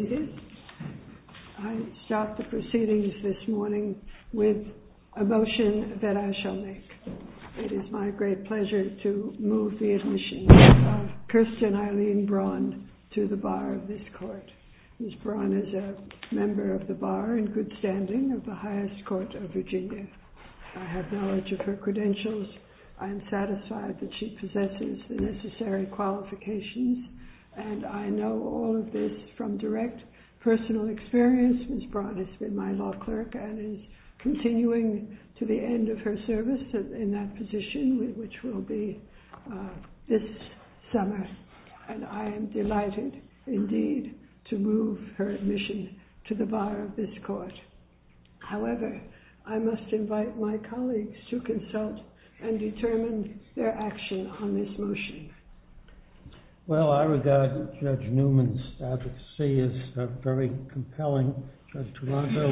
I start the proceedings this morning with a motion that I shall make. It is my great pleasure to move the admission of Kirsten Eileen Braun to the bar of this court. Ms. Braun is a member of the bar in good standing of the highest court of Virginia. I have knowledge of her credentials. I am satisfied that she possesses the necessary qualifications. And I know all of this from direct personal experience. Ms. Braun has been my law clerk and is continuing to the end of her service in that position, which will be this summer. And I am delighted, indeed, to move her admission to the bar of this court. However, I must invite my colleagues to consult and determine their action on this motion. Well, I regard Judge Newman's advocacy as very compelling, Judge Taranto.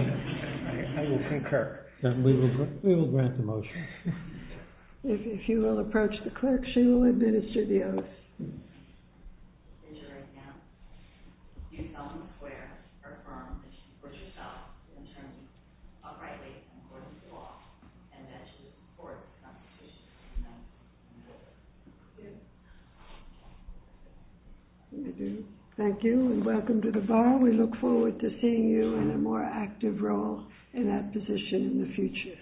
I will concur. Then we will grant the motion. If you will approach the clerk, she will administer the oath. In your account, you tell him where, or from, that you support yourself, the attorney, uprightly and according to law, and that you support the Constitution. Thank you, and welcome to the bar. We look forward to seeing you in a more active role in that position in the future.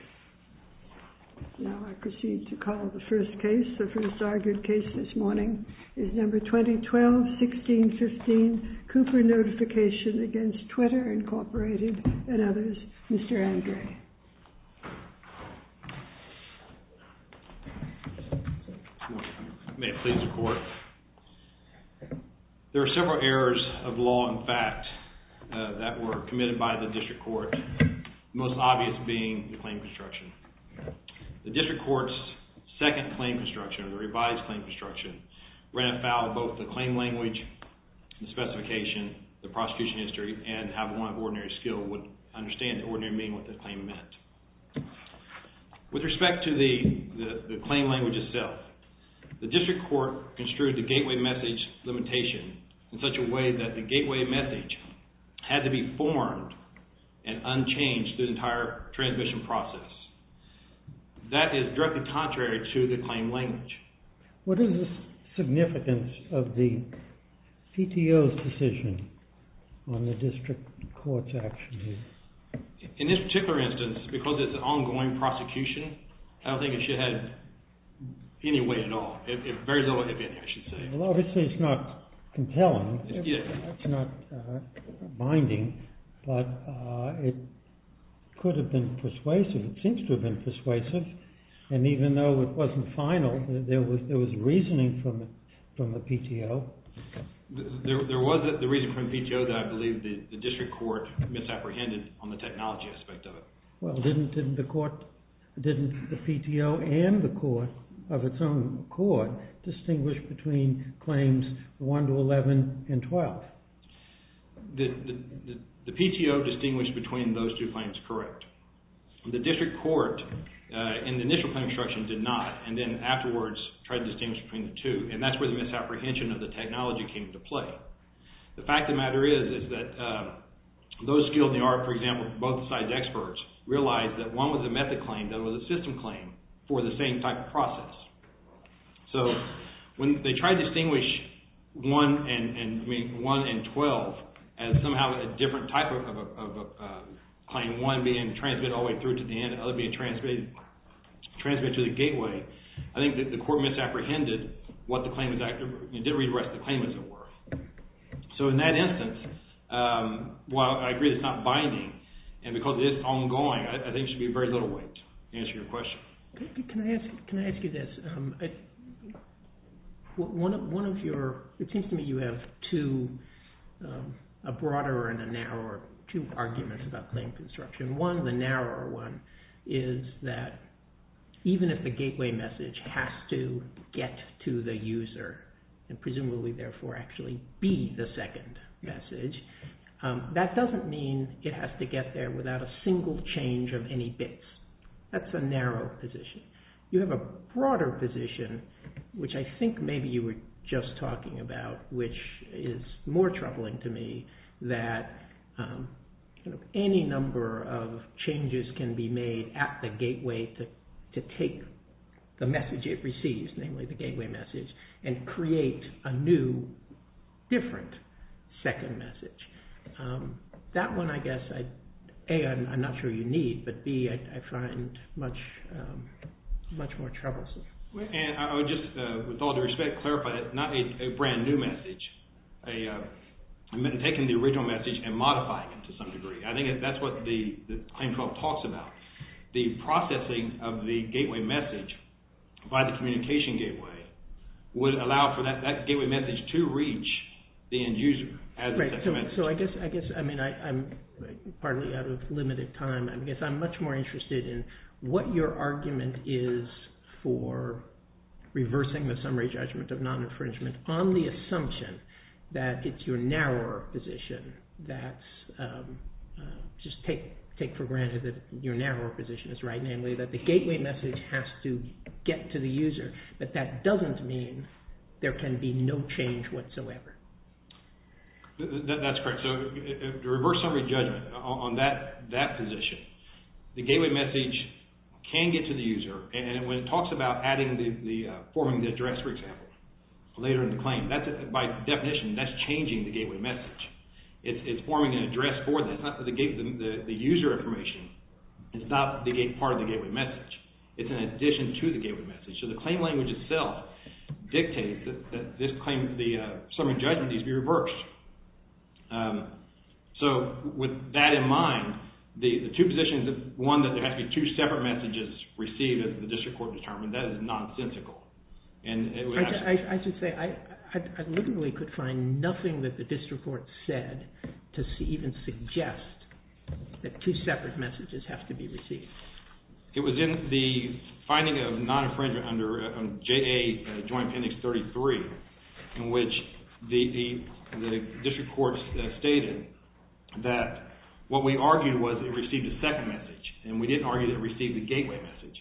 Now I proceed to call the first case, the first argued case this morning, is number 2012-1615, Cooper Notification against Twitter, Incorporated, and others. Mr. Andre. May it please the court. There are several errors of law and fact that were committed by the district court, the most obvious being the claim construction. The district court's second claim construction, the revised claim construction, ran afoul of both the claim language, the specification, the prosecution history, and how one of ordinary skill would understand the ordinary meaning of what the claim meant. With respect to the claim language itself, the district court construed the gateway message limitation in such a way that the gateway message had to be formed and unchanged through the entire transmission process. That is directly contrary to the claim language. What is the significance of the CTO's decision on the district court's actions? In this particular instance, because it's an ongoing prosecution, I don't think it should have any weight at all. Well, obviously it's not compelling. It's not binding, but it could have been persuasive. It seems to have been persuasive. And even though it wasn't final, there was reasoning from the PTO. There was the reasoning from the PTO that I believe the district court misapprehended on the technology aspect of it. Well, didn't the PTO and the court of its own accord distinguish between claims 1 to 11 and 12? The PTO distinguished between those two claims correct. The district court in the initial claim construction did not, and then afterwards tried to distinguish between the two, and that's where the misapprehension of the technology came into play. The fact of the matter is that those skilled in the art, for example, and both sides experts realized that one was a method claim, the other was a system claim for the same type of process. So when they tried to distinguish 1 and 12 as somehow a different type of claim, one being transmitted all the way through to the end and the other being transmitted to the gateway, I think that the court misapprehended what the claim was. It did read the rest of the claim as it were. So in that instance, while I agree that it's not binding, and because it is ongoing, I think there should be very little wait to answer your question. Can I ask you this? It seems to me you have two, a broader and a narrower, two arguments about claim construction. One, the narrower one, is that even if the gateway message has to get to the user and presumably, therefore, actually be the second message, that doesn't mean it has to get there without a single change of any bits. That's a narrow position. You have a broader position, which I think maybe you were just talking about, which is more troubling to me, that any number of changes can be made at the gateway to take the message it receives, namely the gateway message, and create a new, different second message. That one, I guess, A, I'm not sure you need, but B, I find much more troublesome. I would just, with all due respect, clarify that it's not a brand new message. I'm taking the original message and modifying it to some degree. I think that's what the claim 12 talks about. The processing of the gateway message by the communication gateway would allow for that gateway message to reach the end user as a second message. So I guess, I mean, I'm partly out of limited time. I guess I'm much more interested in what your argument is for reversing the summary judgment of non-infringement on the assumption that it's your narrower position that's, just take for granted that your narrower position is right, namely that the gateway message has to get to the user, but that doesn't mean there can be no change whatsoever. That's correct. So the reverse summary judgment on that position, the gateway message can get to the user, and when it talks about forming the address, for example, later in the claim, by definition, that's changing the gateway message. It's forming an address for the user information. It's not part of the gateway message. It's an addition to the gateway message. So the claim language itself dictates that this claim, the summary judgment needs to be reversed. So with that in mind, the two positions, one that there has to be two separate messages received that the district court determined, that is nonsensical. I should say I literally could find nothing that the district court said to even suggest that two separate messages have to be received. It was in the finding of non-infringement under JA Joint Appendix 33 in which the district court stated that what we argued was it received a second message, and we didn't argue that it received the gateway message.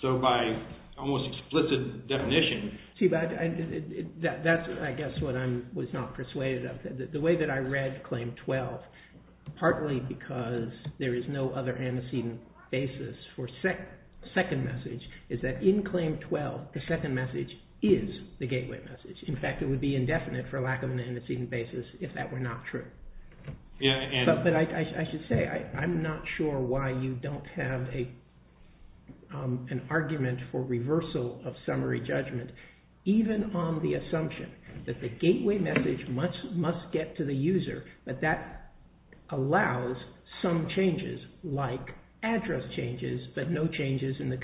So by almost explicit definition... That's, I guess, what I was not persuaded of. The way that I read Claim 12, partly because there is no other antecedent basis for second message, is that in Claim 12, the second message is the gateway message. In fact, it would be indefinite for lack of an antecedent basis if that were not true. But I should say, I'm not sure why you don't have an argument for reversal of summary judgment, even on the assumption that the gateway message must get to the user, but that allows some changes like address changes, but no changes in the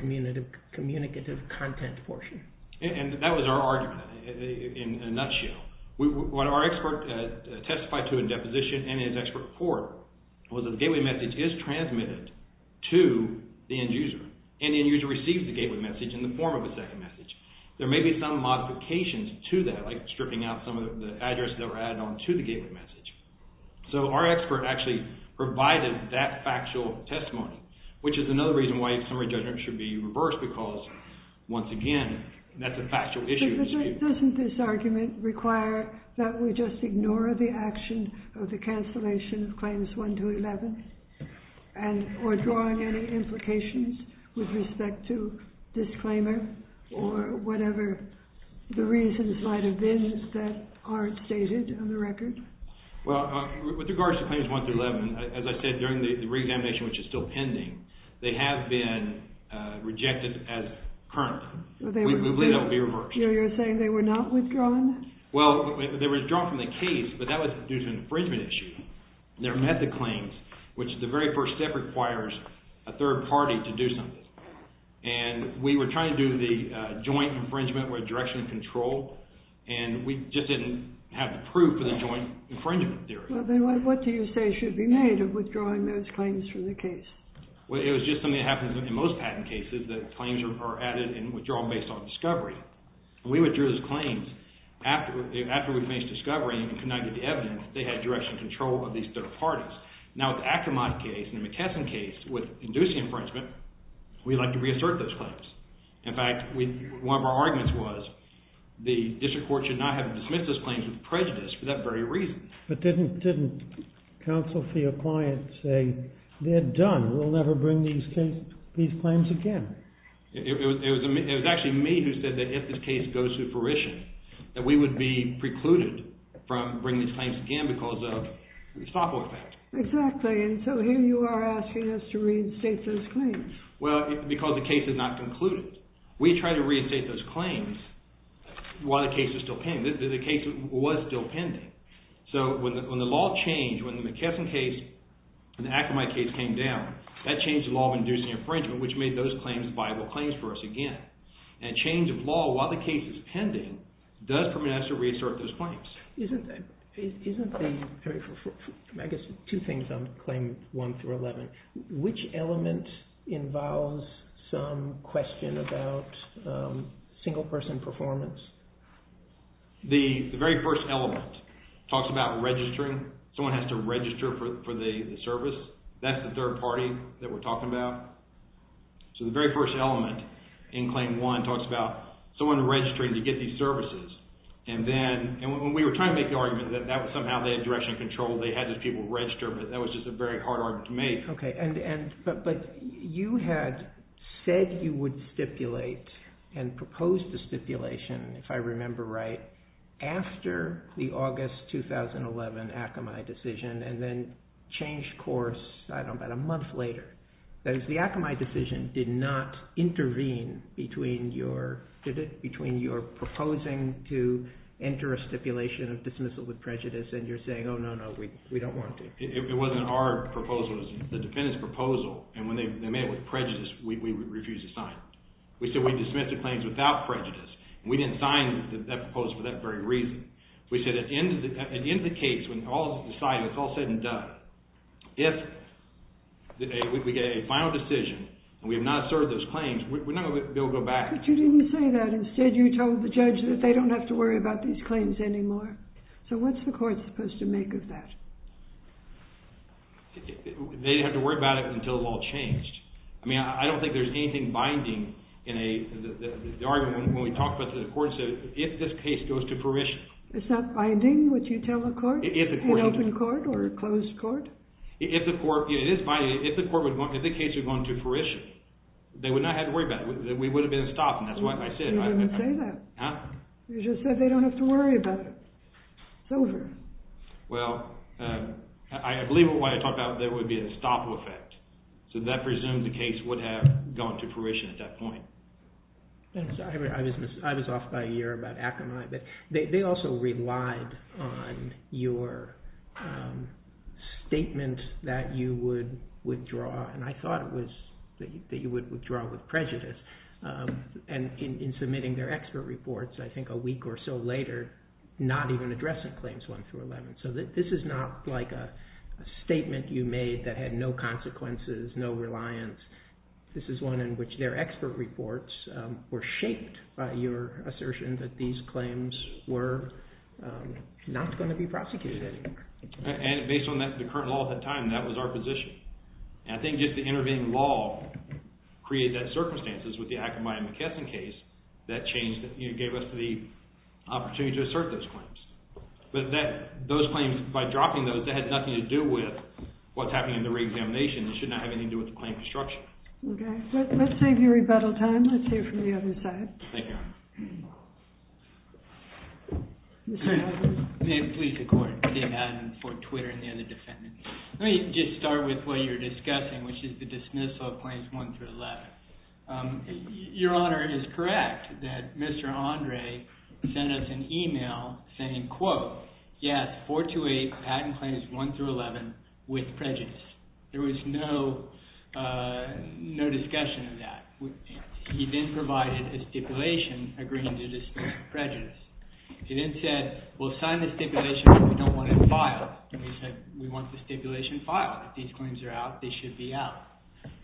communicative content portion. And that was our argument in a nutshell. What our expert testified to in deposition and in his expert report was that the gateway message is transmitted to the end user, and the end user receives the gateway message in the form of a second message. There may be some modifications to that, like stripping out some of the addresses that were added on to the gateway message. So our expert actually provided that factual testimony, which is another reason why summary judgment should be reversed because, once again, that's a factual issue. Doesn't this argument require that we just ignore the action of the cancellation of Claims 1 through 11, or drawing any implications with respect to disclaimer, or whatever the reasons might have been that aren't stated on the record? Well, with regards to Claims 1 through 11, as I said during the reexamination, which is still pending, they have been rejected as current. We believe that will be reversed. You're saying they were not withdrawn? Well, they were withdrawn from the case, but that was due to an infringement issue. They're method claims, which the very first step requires a third party to do something. And we were trying to do the joint infringement with direction and control, and we just didn't have the proof for the joint infringement theory. What do you say should be made of withdrawing those claims from the case? Well, it was just something that happens in most patent cases, that claims are added and withdrawn based on discovery. And we withdrew those claims after we faced discovery and could not get the evidence that they had direction and control of these third parties. Now, with the Ackermann case and the McKesson case, with inducing infringement, we'd like to reassert those claims. In fact, one of our arguments was the district court should not have dismissed those claims with prejudice for that very reason. But didn't counsel for your client say, they're done, we'll never bring these claims again? It was actually me who said that if this case goes to fruition, that we would be precluded from bringing these claims again because of the software factor. Exactly, and so here you are asking us to reinstate those claims. Well, because the case is not concluded. We try to reinstate those claims while the case is still pending. The case was still pending. So when the law changed, when the McKesson case and the Ackermann case came down, that changed the law of inducing infringement, which made those claims viable claims for us again. And change of law while the case is pending does permit us to reassert those claims. Isn't there, I guess, two things on Claim 1 through 11. Which element involves some question about single person performance? The very first element talks about registering. Someone has to register for the service. That's the third party that we're talking about. So the very first element in Claim 1 talks about someone registering to get these services. And when we were trying to make the argument that somehow they had direction control, they had these people register, but that was just a very hard argument to make. But you had said you would stipulate and propose the stipulation, if I remember right, after the August 2011 Ackermann decision and then changed course about a month later. That is, the Ackermann decision did not intervene between your proposing to enter a stipulation of dismissal with prejudice and your saying, oh, no, no, we don't want to. It wasn't our proposal. It was the defendant's proposal. And when they made it with prejudice, we refused to sign it. We said we'd dismiss the claims without prejudice. We didn't sign that proposal for that very reason. We said at the end of the case, when all is decided, it's all said and done. If we get a final decision and we have not served those claims, we're not going to be able to go back. But you didn't say that. Instead, you told the judge that they don't have to worry about these claims anymore. So what's the court supposed to make of that? They have to worry about it until it's all changed. I mean, I don't think there's anything binding in the argument when we talk about the court, if this case goes to fruition. It's not binding, what you tell the court? An open court or a closed court? It is binding if the case is going to fruition. They would not have to worry about it. We would have been stopped, and that's why I said it. You didn't say that. You just said they don't have to worry about it. It's over. Well, I believe what I talked about, there would be a stop effect. So that presumes the case would have gone to fruition at that point. I was off by a year about Akamai, but they also relied on your statement that you would withdraw, and I thought it was that you would withdraw with prejudice. And in submitting their expert reports, I think a week or so later, not even addressing claims 1 through 11. So this is not like a statement you made that had no consequences, no reliance. This is one in which their expert reports were shaped by your assertion that these claims were not going to be prosecuted anymore. And based on the current law at the time, that was our position. And I think just the intervening law created those circumstances with the Akamai and McKesson case that changed, that gave us the opportunity to assert those claims. But those claims, by dropping those, that had nothing to do with what's happening in the reexamination. It should not have anything to do with the claim construction. Okay. Let's save you rebuttal time. Let's hear from the other side. Thank you, Your Honor. May it please the Court. Dave Madden for Twitter and the other defendants. Let me just start with what you're discussing, which is the dismissal of claims 1 through 11. Your Honor, it is correct that Mr. Andre sent us an email saying, quote, yes, 428 patent claims 1 through 11 with prejudice. There was no discussion of that. He then provided a stipulation agreeing to dismiss prejudice. He then said, we'll sign the stipulation, but we don't want it filed. And he said, we want the stipulation filed. If these claims are out, they should be out.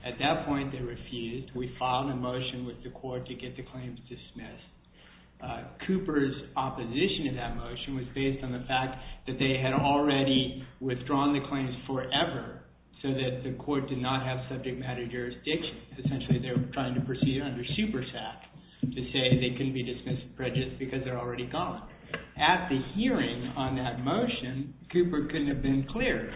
At that point, they refused. We filed a motion with the court to get the claims dismissed. Cooper's opposition to that motion was based on the fact that they had already withdrawn the claims forever so that the court did not have subject matter jurisdiction. Essentially, they were trying to proceed under supersat to say they couldn't be dismissed prejudice because they're already gone. At the hearing on that motion, Cooper couldn't have been clearer.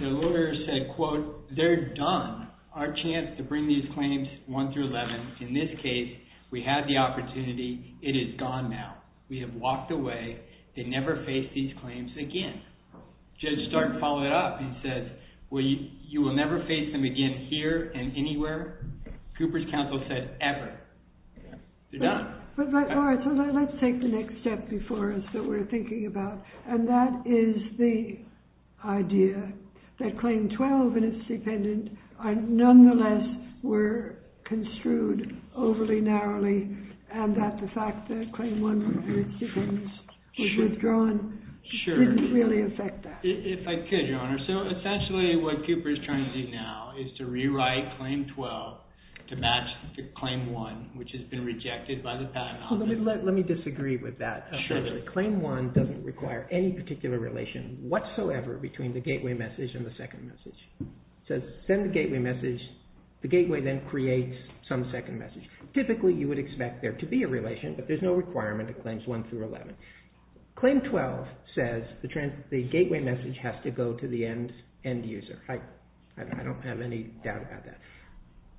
The lawyer said, quote, they're done. Our chance to bring these claims 1 through 11, in this case, we had the opportunity. It is gone now. We have walked away. They never face these claims again. Judge Stark followed it up and said, well, you will never face them again here and anywhere. Cooper's counsel said, ever. They're done. All right. Let's take the next step before us that we're thinking about. And that is the idea that Claim 12 and its dependent nonetheless were construed overly narrowly and that the fact that Claim 1 was withdrawn didn't really affect that. If I could, Your Honor. So essentially what Cooper is trying to do now is to rewrite Claim 12 to match Claim 1, which has been rejected by the patent office. Let me disagree with that. Claim 1 doesn't require any particular relation whatsoever between the gateway message and the second message. It says send the gateway message. The gateway then creates some second message. Typically, you would expect there to be a relation, but there's no requirement of Claims 1 through 11. Claim 12 says the gateway message has to go to the end user. I don't have any doubt about that.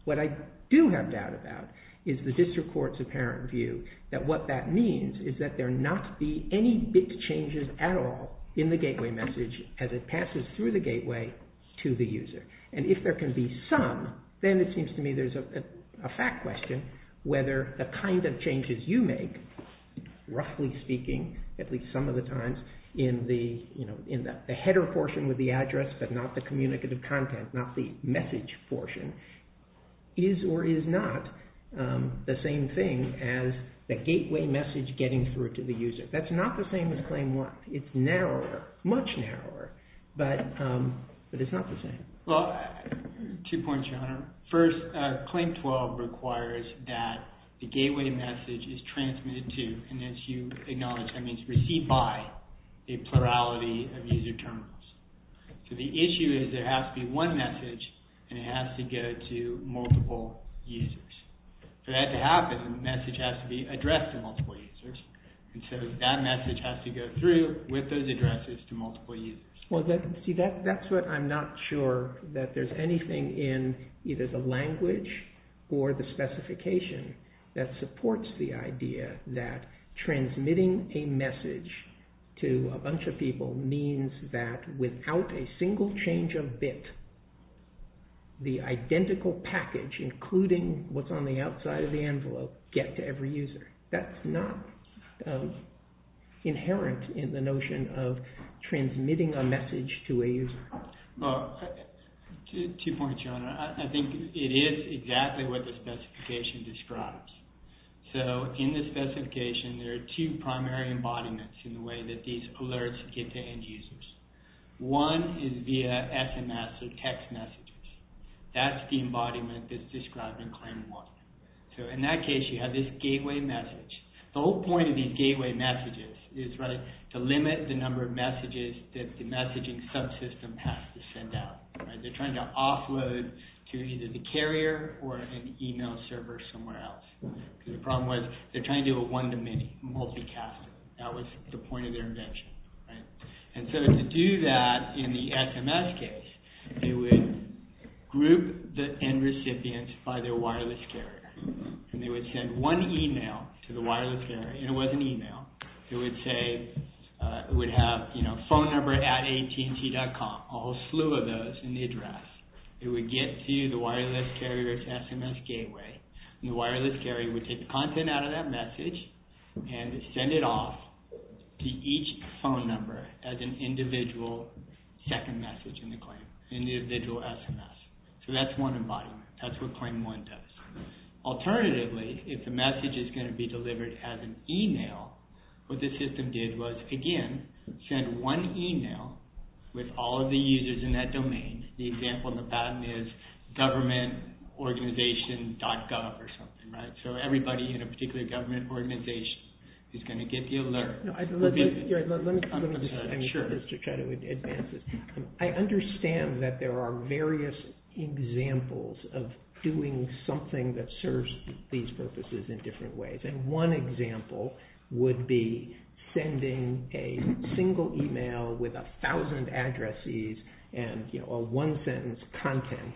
What I do have doubt about is the district court's apparent view that what that means is that there not be any big changes at all in the gateway message as it passes through the gateway to the user. If there can be some, then it seems to me there's a fact question whether the kind of changes you make, roughly speaking, at least some of the times, in the header portion with the address but not the communicative content, not the message portion, is or is not the same thing as the gateway message getting through to the user. That's not the same as Claim 1. It's narrower, much narrower, but it's not the same. Two points, Your Honor. First, Claim 12 requires that the gateway message is transmitted to, and as you acknowledge, that means received by, a plurality of user terminals. The issue is there has to be one message and it has to go to multiple users. For that to happen, the message has to be addressed to multiple users. That message has to go through with those addresses to multiple users. That's what I'm not sure that there's anything in either the language or the specification that supports the idea that transmitting a message to a bunch of people means that without a single change of bit, the identical package, including what's on the outside of the envelope, get to every user. That's not inherent in the notion of transmitting a message to a user. Two points, Your Honor. I think it is exactly what the specification describes. In the specification, there are two primary embodiments in the way that these alerts get to end users. One is via SMS or text messages. That's the embodiment that's described in Claim 1. In that case, you have this gateway message. The whole point of these gateway messages is to limit the number of messages that the messaging subsystem has to send out. They're trying to offload to either the carrier or an email server somewhere else. The problem was they're trying to do a one-to-many, multicast. That was the point of their invention. To do that in the SMS case, they would group the end recipients by their wireless carrier. They would send one email to the wireless carrier. It was an email. It would have a phone number at AT&T.com, a whole slew of those in the address. It would get to the wireless carrier's SMS gateway. The wireless carrier would take the content out of that message and send it off to each phone number as an individual second message in the claim, an individual SMS. That's one embodiment. That's what Claim 1 does. Alternatively, if the message is going to be delivered as an email, what the system did was, again, send one email with all of the users in that domain. The example on the bottom is governmentorganization.gov or something. Everybody in a particular government organization is going to get the alert. Let me just try to advance this. I understand that there are various examples of doing something that serves these purposes in different ways. One example would be sending a single email with 1,000 addresses and a one-sentence content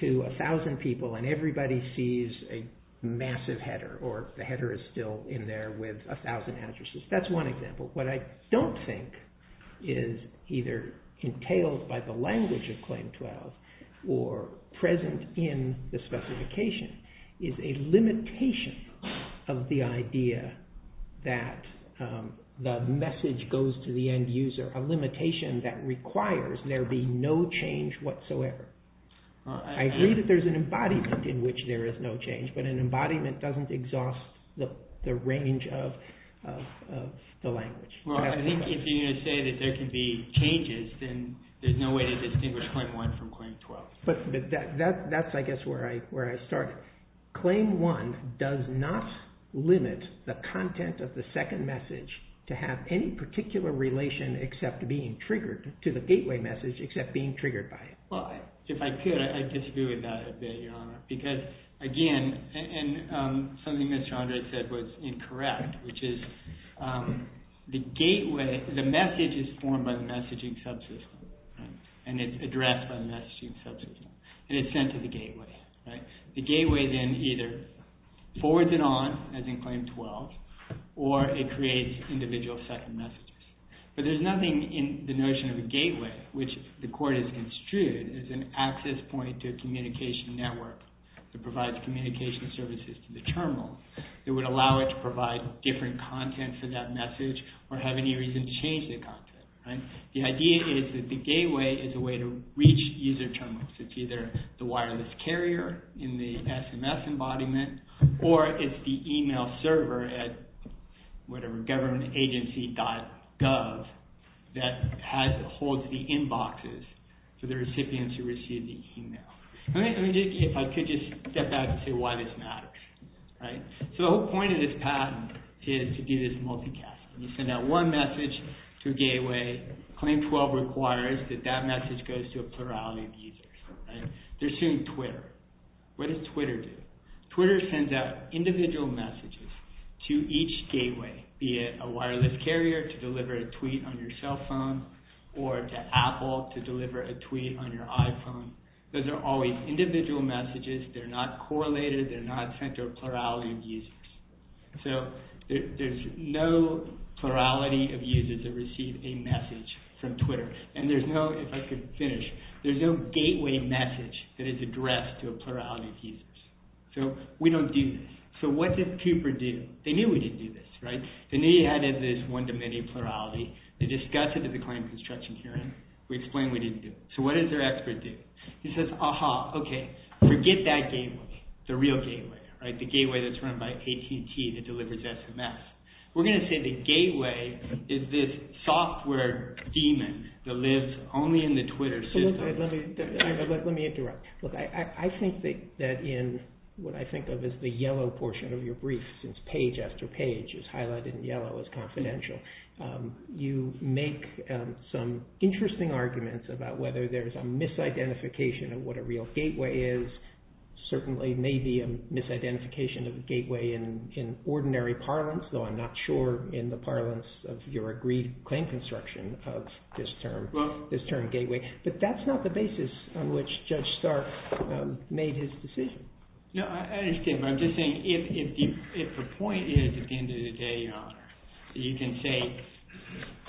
to 1,000 people and everybody sees a massive header or the header is still in there with 1,000 addresses. That's one example. What I don't think is either entailed by the language of Claim 12 or present in the specification is a limitation of the idea that the message goes to the end user, a limitation that requires there be no change whatsoever. I agree that there's an embodiment in which there is no change, but an embodiment doesn't exhaust the range of the language. I think if you're going to say that there can be changes, then there's no way to distinguish Claim 1 from Claim 12. That's, I guess, where I start. Claim 1 does not limit the content of the second message to have any particular relation to the gateway message except being triggered by it. If I could, I disagree with that a bit, Your Honor. Because, again, something Mr. Andre said was incorrect, which is the message is formed by the messaging subsystem and it's addressed by the messaging subsystem and it's sent to the gateway. The gateway then either forwards it on, as in Claim 12, or it creates individual second messages. But there's nothing in the notion of a gateway which the court has construed as an access point to a communication network that provides communication services to the terminal that would allow it to provide different content for that message or have any reason to change the content. The idea is that the gateway is a way to reach user terminals. It's either the wireless carrier in the SMS embodiment or it's the email server at whatever, governmentagency.gov, that holds the inboxes to the recipients who receive the email. I could just step back and say why this matters. The whole point of this patent is to do this multicast. You send out one message to a gateway. Claim 12 requires that that message goes to a plurality of users. They're suing Twitter. What does Twitter do? Twitter sends out individual messages to each gateway, be it a wireless carrier to deliver a tweet on your cell phone or to Apple to deliver a tweet on your iPhone. Those are always individual messages. They're not correlated. They're not sent to a plurality of users. So there's no plurality of users that receive a message from Twitter. And there's no, if I could finish, there's no gateway message that is addressed to a plurality of users. So we don't do this. So what does Cooper do? They knew we didn't do this, right? They knew you had this one-to-many plurality. They discuss it at the claim construction hearing. We explain we didn't do it. So what does their expert do? He says, aha, okay, forget that gateway, the real gateway, the gateway that's run by AT&T that delivers SMS. We're going to say the gateway is this software demon that lives only in the Twitter system. Let me interrupt. Look, I think that in what I think of as the yellow portion of your brief, since page after page is highlighted in yellow as confidential, you make some interesting arguments about whether there's a misidentification of what a real gateway is. Certainly may be a misidentification of the gateway in ordinary parlance, though I'm not sure in the parlance of your agreed claim construction of this term, this term gateway. But that's not the basis on which Judge Stark made his decision. No, I understand, but I'm just saying if the point is at the end of the day, Your Honor, you can say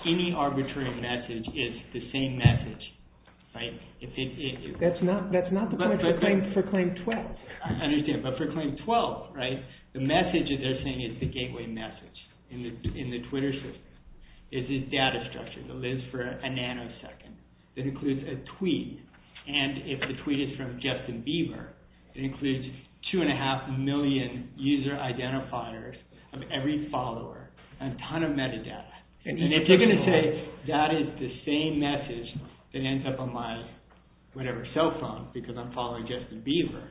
any arbitrary message is the same message, right? That's not the point for claim 12. I understand, but for claim 12, right, the message they're saying is the gateway message in the Twitter system. It's this data structure that lives for a nanosecond that includes a tweet. And if the tweet is from Justin Bieber, it includes two and a half million user identifiers of every follower and a ton of metadata. And if they're going to say that is the same message that ends up on my whatever cell phone because I'm following Justin Bieber,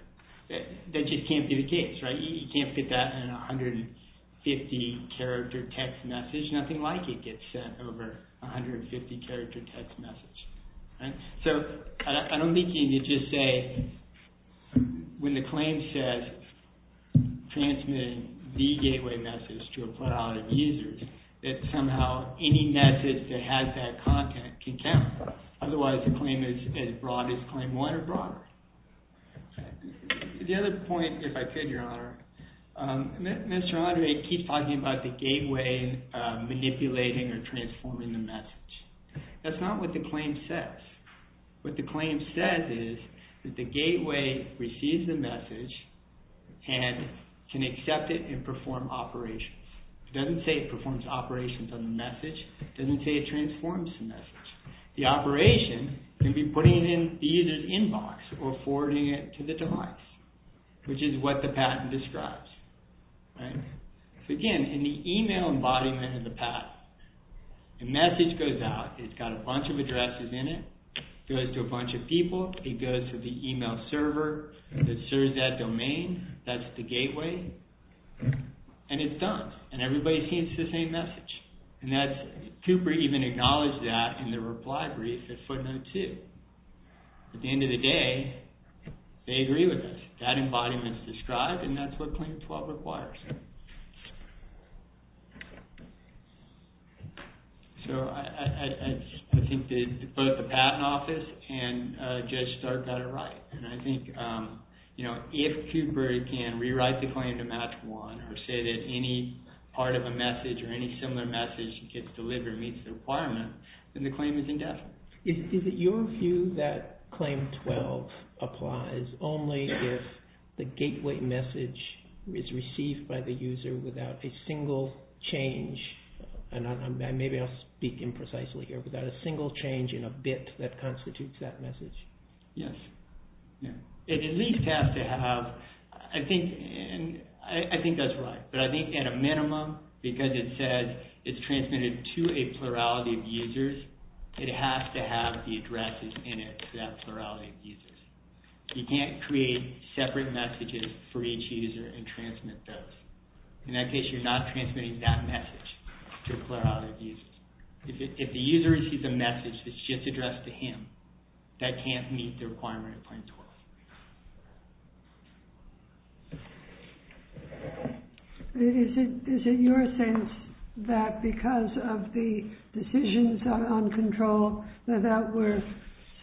that just can't be the case, right? You can't put that in a 150-character text message. Nothing like it gets sent over a 150-character text message, right? So I don't mean to just say when the claim says transmitting the gateway message to a plethora of users that somehow any message that has that content can count. Otherwise, the claim is as broad as claim 1 or broader. The other point, if I could, Your Honor, Mr. Andre keeps talking about the gateway manipulating or transforming the message. That's not what the claim says. What the claim says is that the gateway receives the message and can accept it and perform operations. It doesn't say it performs operations on the message. It doesn't say it transforms the message. The operation can be putting it in the user's inbox or forwarding it to the device, which is what the patent describes, right? So again, in the email embodiment of the patent, the message goes out. It's got a bunch of addresses in it. It goes to a bunch of people. It goes to the email server that serves that domain. That's the gateway. And it's done. And everybody sees the same message. Cooper even acknowledged that in the reply brief at footnote 2. At the end of the day, they agree with us. That embodiment is described, and that's what claim 12 requires. So I think that both the patent office and Judge Stark got it right. And I think if Cooper can rewrite the claim to match one or say that any part of a message or any similar message gets delivered, meets the requirement, then the claim is indefinite. Is it your view that claim 12 applies only if the gateway message is received by the user without a single change? And maybe I'll speak imprecisely here. Without a single change in a bit that constitutes that message? Yes. It at least has to have... I think that's right. But I think at a minimum, because it says it's transmitted to a plurality of users, it has to have the addresses in it for that plurality of users. You can't create separate messages for each user and transmit those. In that case, you're not transmitting that message to a plurality of users. If the user receives a message that's just addressed to him, that can't meet the requirement of claim 12. Is it your sense that because of the decisions on control, that that were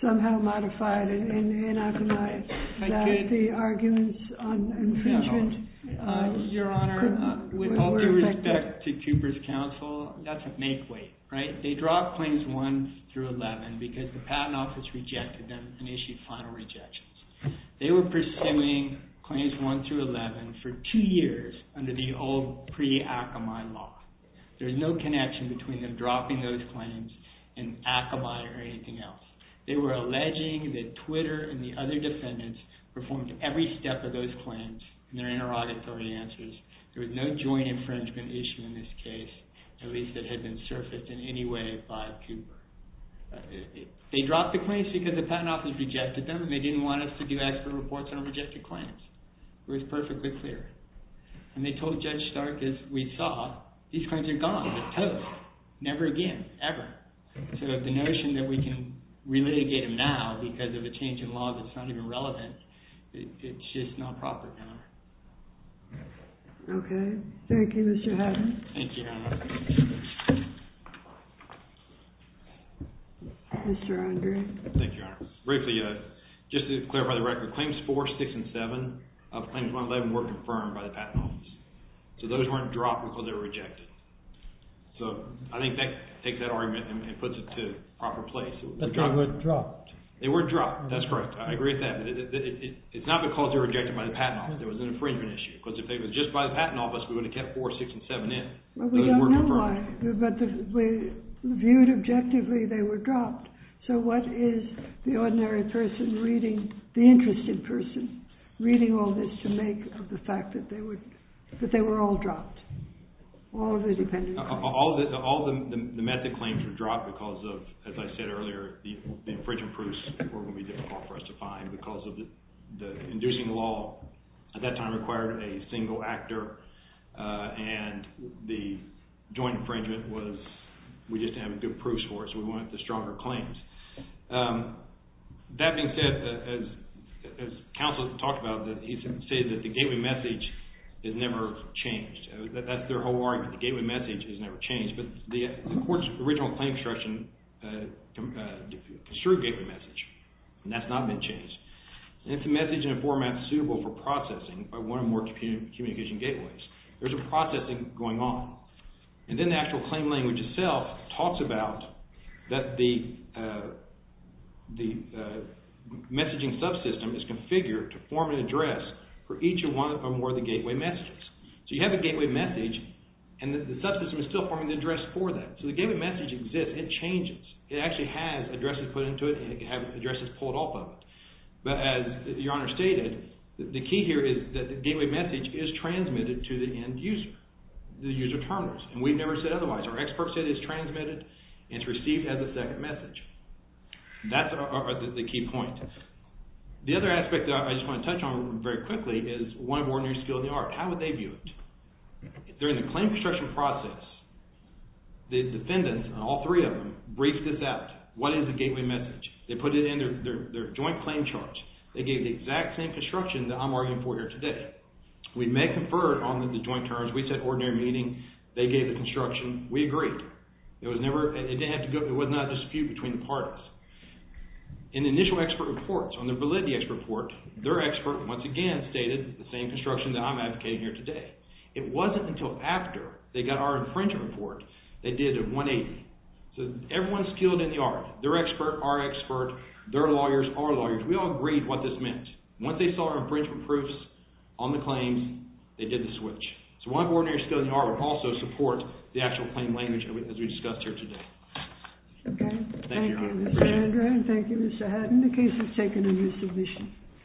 somehow modified and anachronized, that the arguments on infringement... If you look back to Cooper's counsel, that's a make-weight. They dropped claims 1 through 11 because the Patent Office rejected them and issued final rejections. They were pursuing claims 1 through 11 for two years under the old pre-Akamai law. There's no connection between them dropping those claims and Akamai or anything else. They were alleging that Twitter and the other defendants performed every step of those claims in their inter-auditory answers. There was no joint infringement issue in this case, at least that had been surfaced in any way by Cooper. They dropped the claims because the Patent Office rejected them and they didn't want us to do expert reports on rejected claims. It was perfectly clear. And they told Judge Stark, as we saw, these claims are gone. They're toast. Never again. Ever. So the notion that we can relitigate them now because of a change in law that's not even relevant, it's just not proper now. Okay. Thank you, Mr. Haddon. Thank you, Your Honor. Mr. Andre. Thank you, Your Honor. Briefly, just to clarify the record, claims 4, 6, and 7 of claims 1 through 11 were confirmed by the Patent Office. So those weren't dropped because they were rejected. So I think that takes that argument and puts it to proper place. But they weren't dropped. They weren't dropped. That's correct. I agree with that. It's not because they were rejected by the Patent Office. There was an infringement issue. Because if they were just by the Patent Office, we would have kept 4, 6, and 7 in. But we don't know why. But viewed objectively, they were dropped. So what is the ordinary person reading, the interested person, reading all this to make of the fact that they were all dropped? All of the dependent claims. All of the method claims were dropped because of, as I said earlier, the infringement proofs were going to be difficult for us to find because the inducing law at that time required a single actor. And the joint infringement was, we just didn't have good proofs for it. So we went with the stronger claims. That being said, as counsel talked about, he said that the gateway message has never changed. That's their whole argument, the gateway message has never changed. But the court's original claim instruction construed gateway message. And that's not been changed. And it's a message in a format suitable for processing by one or more communication gateways. There's a processing going on. And then the actual claim language itself talks about that the messaging subsystem is configured to form an address for each one or more of the gateway messages. So you have a gateway message and the subsystem is still forming the address for that. So the gateway message exists. It changes. It actually has addresses put into it and it can have addresses pulled off of it. But as Your Honor stated, the key here is that the gateway message is transmitted to the end user, the user terminals. And we've never said otherwise. Our experts say it's transmitted and it's received as a second message. That's the key point. The other aspect that I just want to touch on very quickly is one of ordinary skill in the art. How would they view it? During the claim construction process, the defendants, all three of them, briefed this out. What is the gateway message? They put it in their joint claim charge. They gave the exact same construction that I'm arguing for here today. We may confer on the joint terms. We said ordinary meaning. They gave the construction. We agreed. It was never – it didn't have to go – it was not a dispute between the parties. In the initial expert reports, on the validity expert report, their expert once again stated the same construction that I'm advocating here today. It wasn't until after they got our infringement report they did a 180. So everyone is skilled in the art. Their expert, our expert, their lawyers, our lawyers. We all agreed what this meant. Once they saw our infringement proofs on the claims, they did the switch. So one of the ordinary skills in the art would also support the actual claim language as we discussed here today. Okay. Thank you. Thank you, Mr. Andrew, and thank you, Mr. Haddon. The case is taken in this division.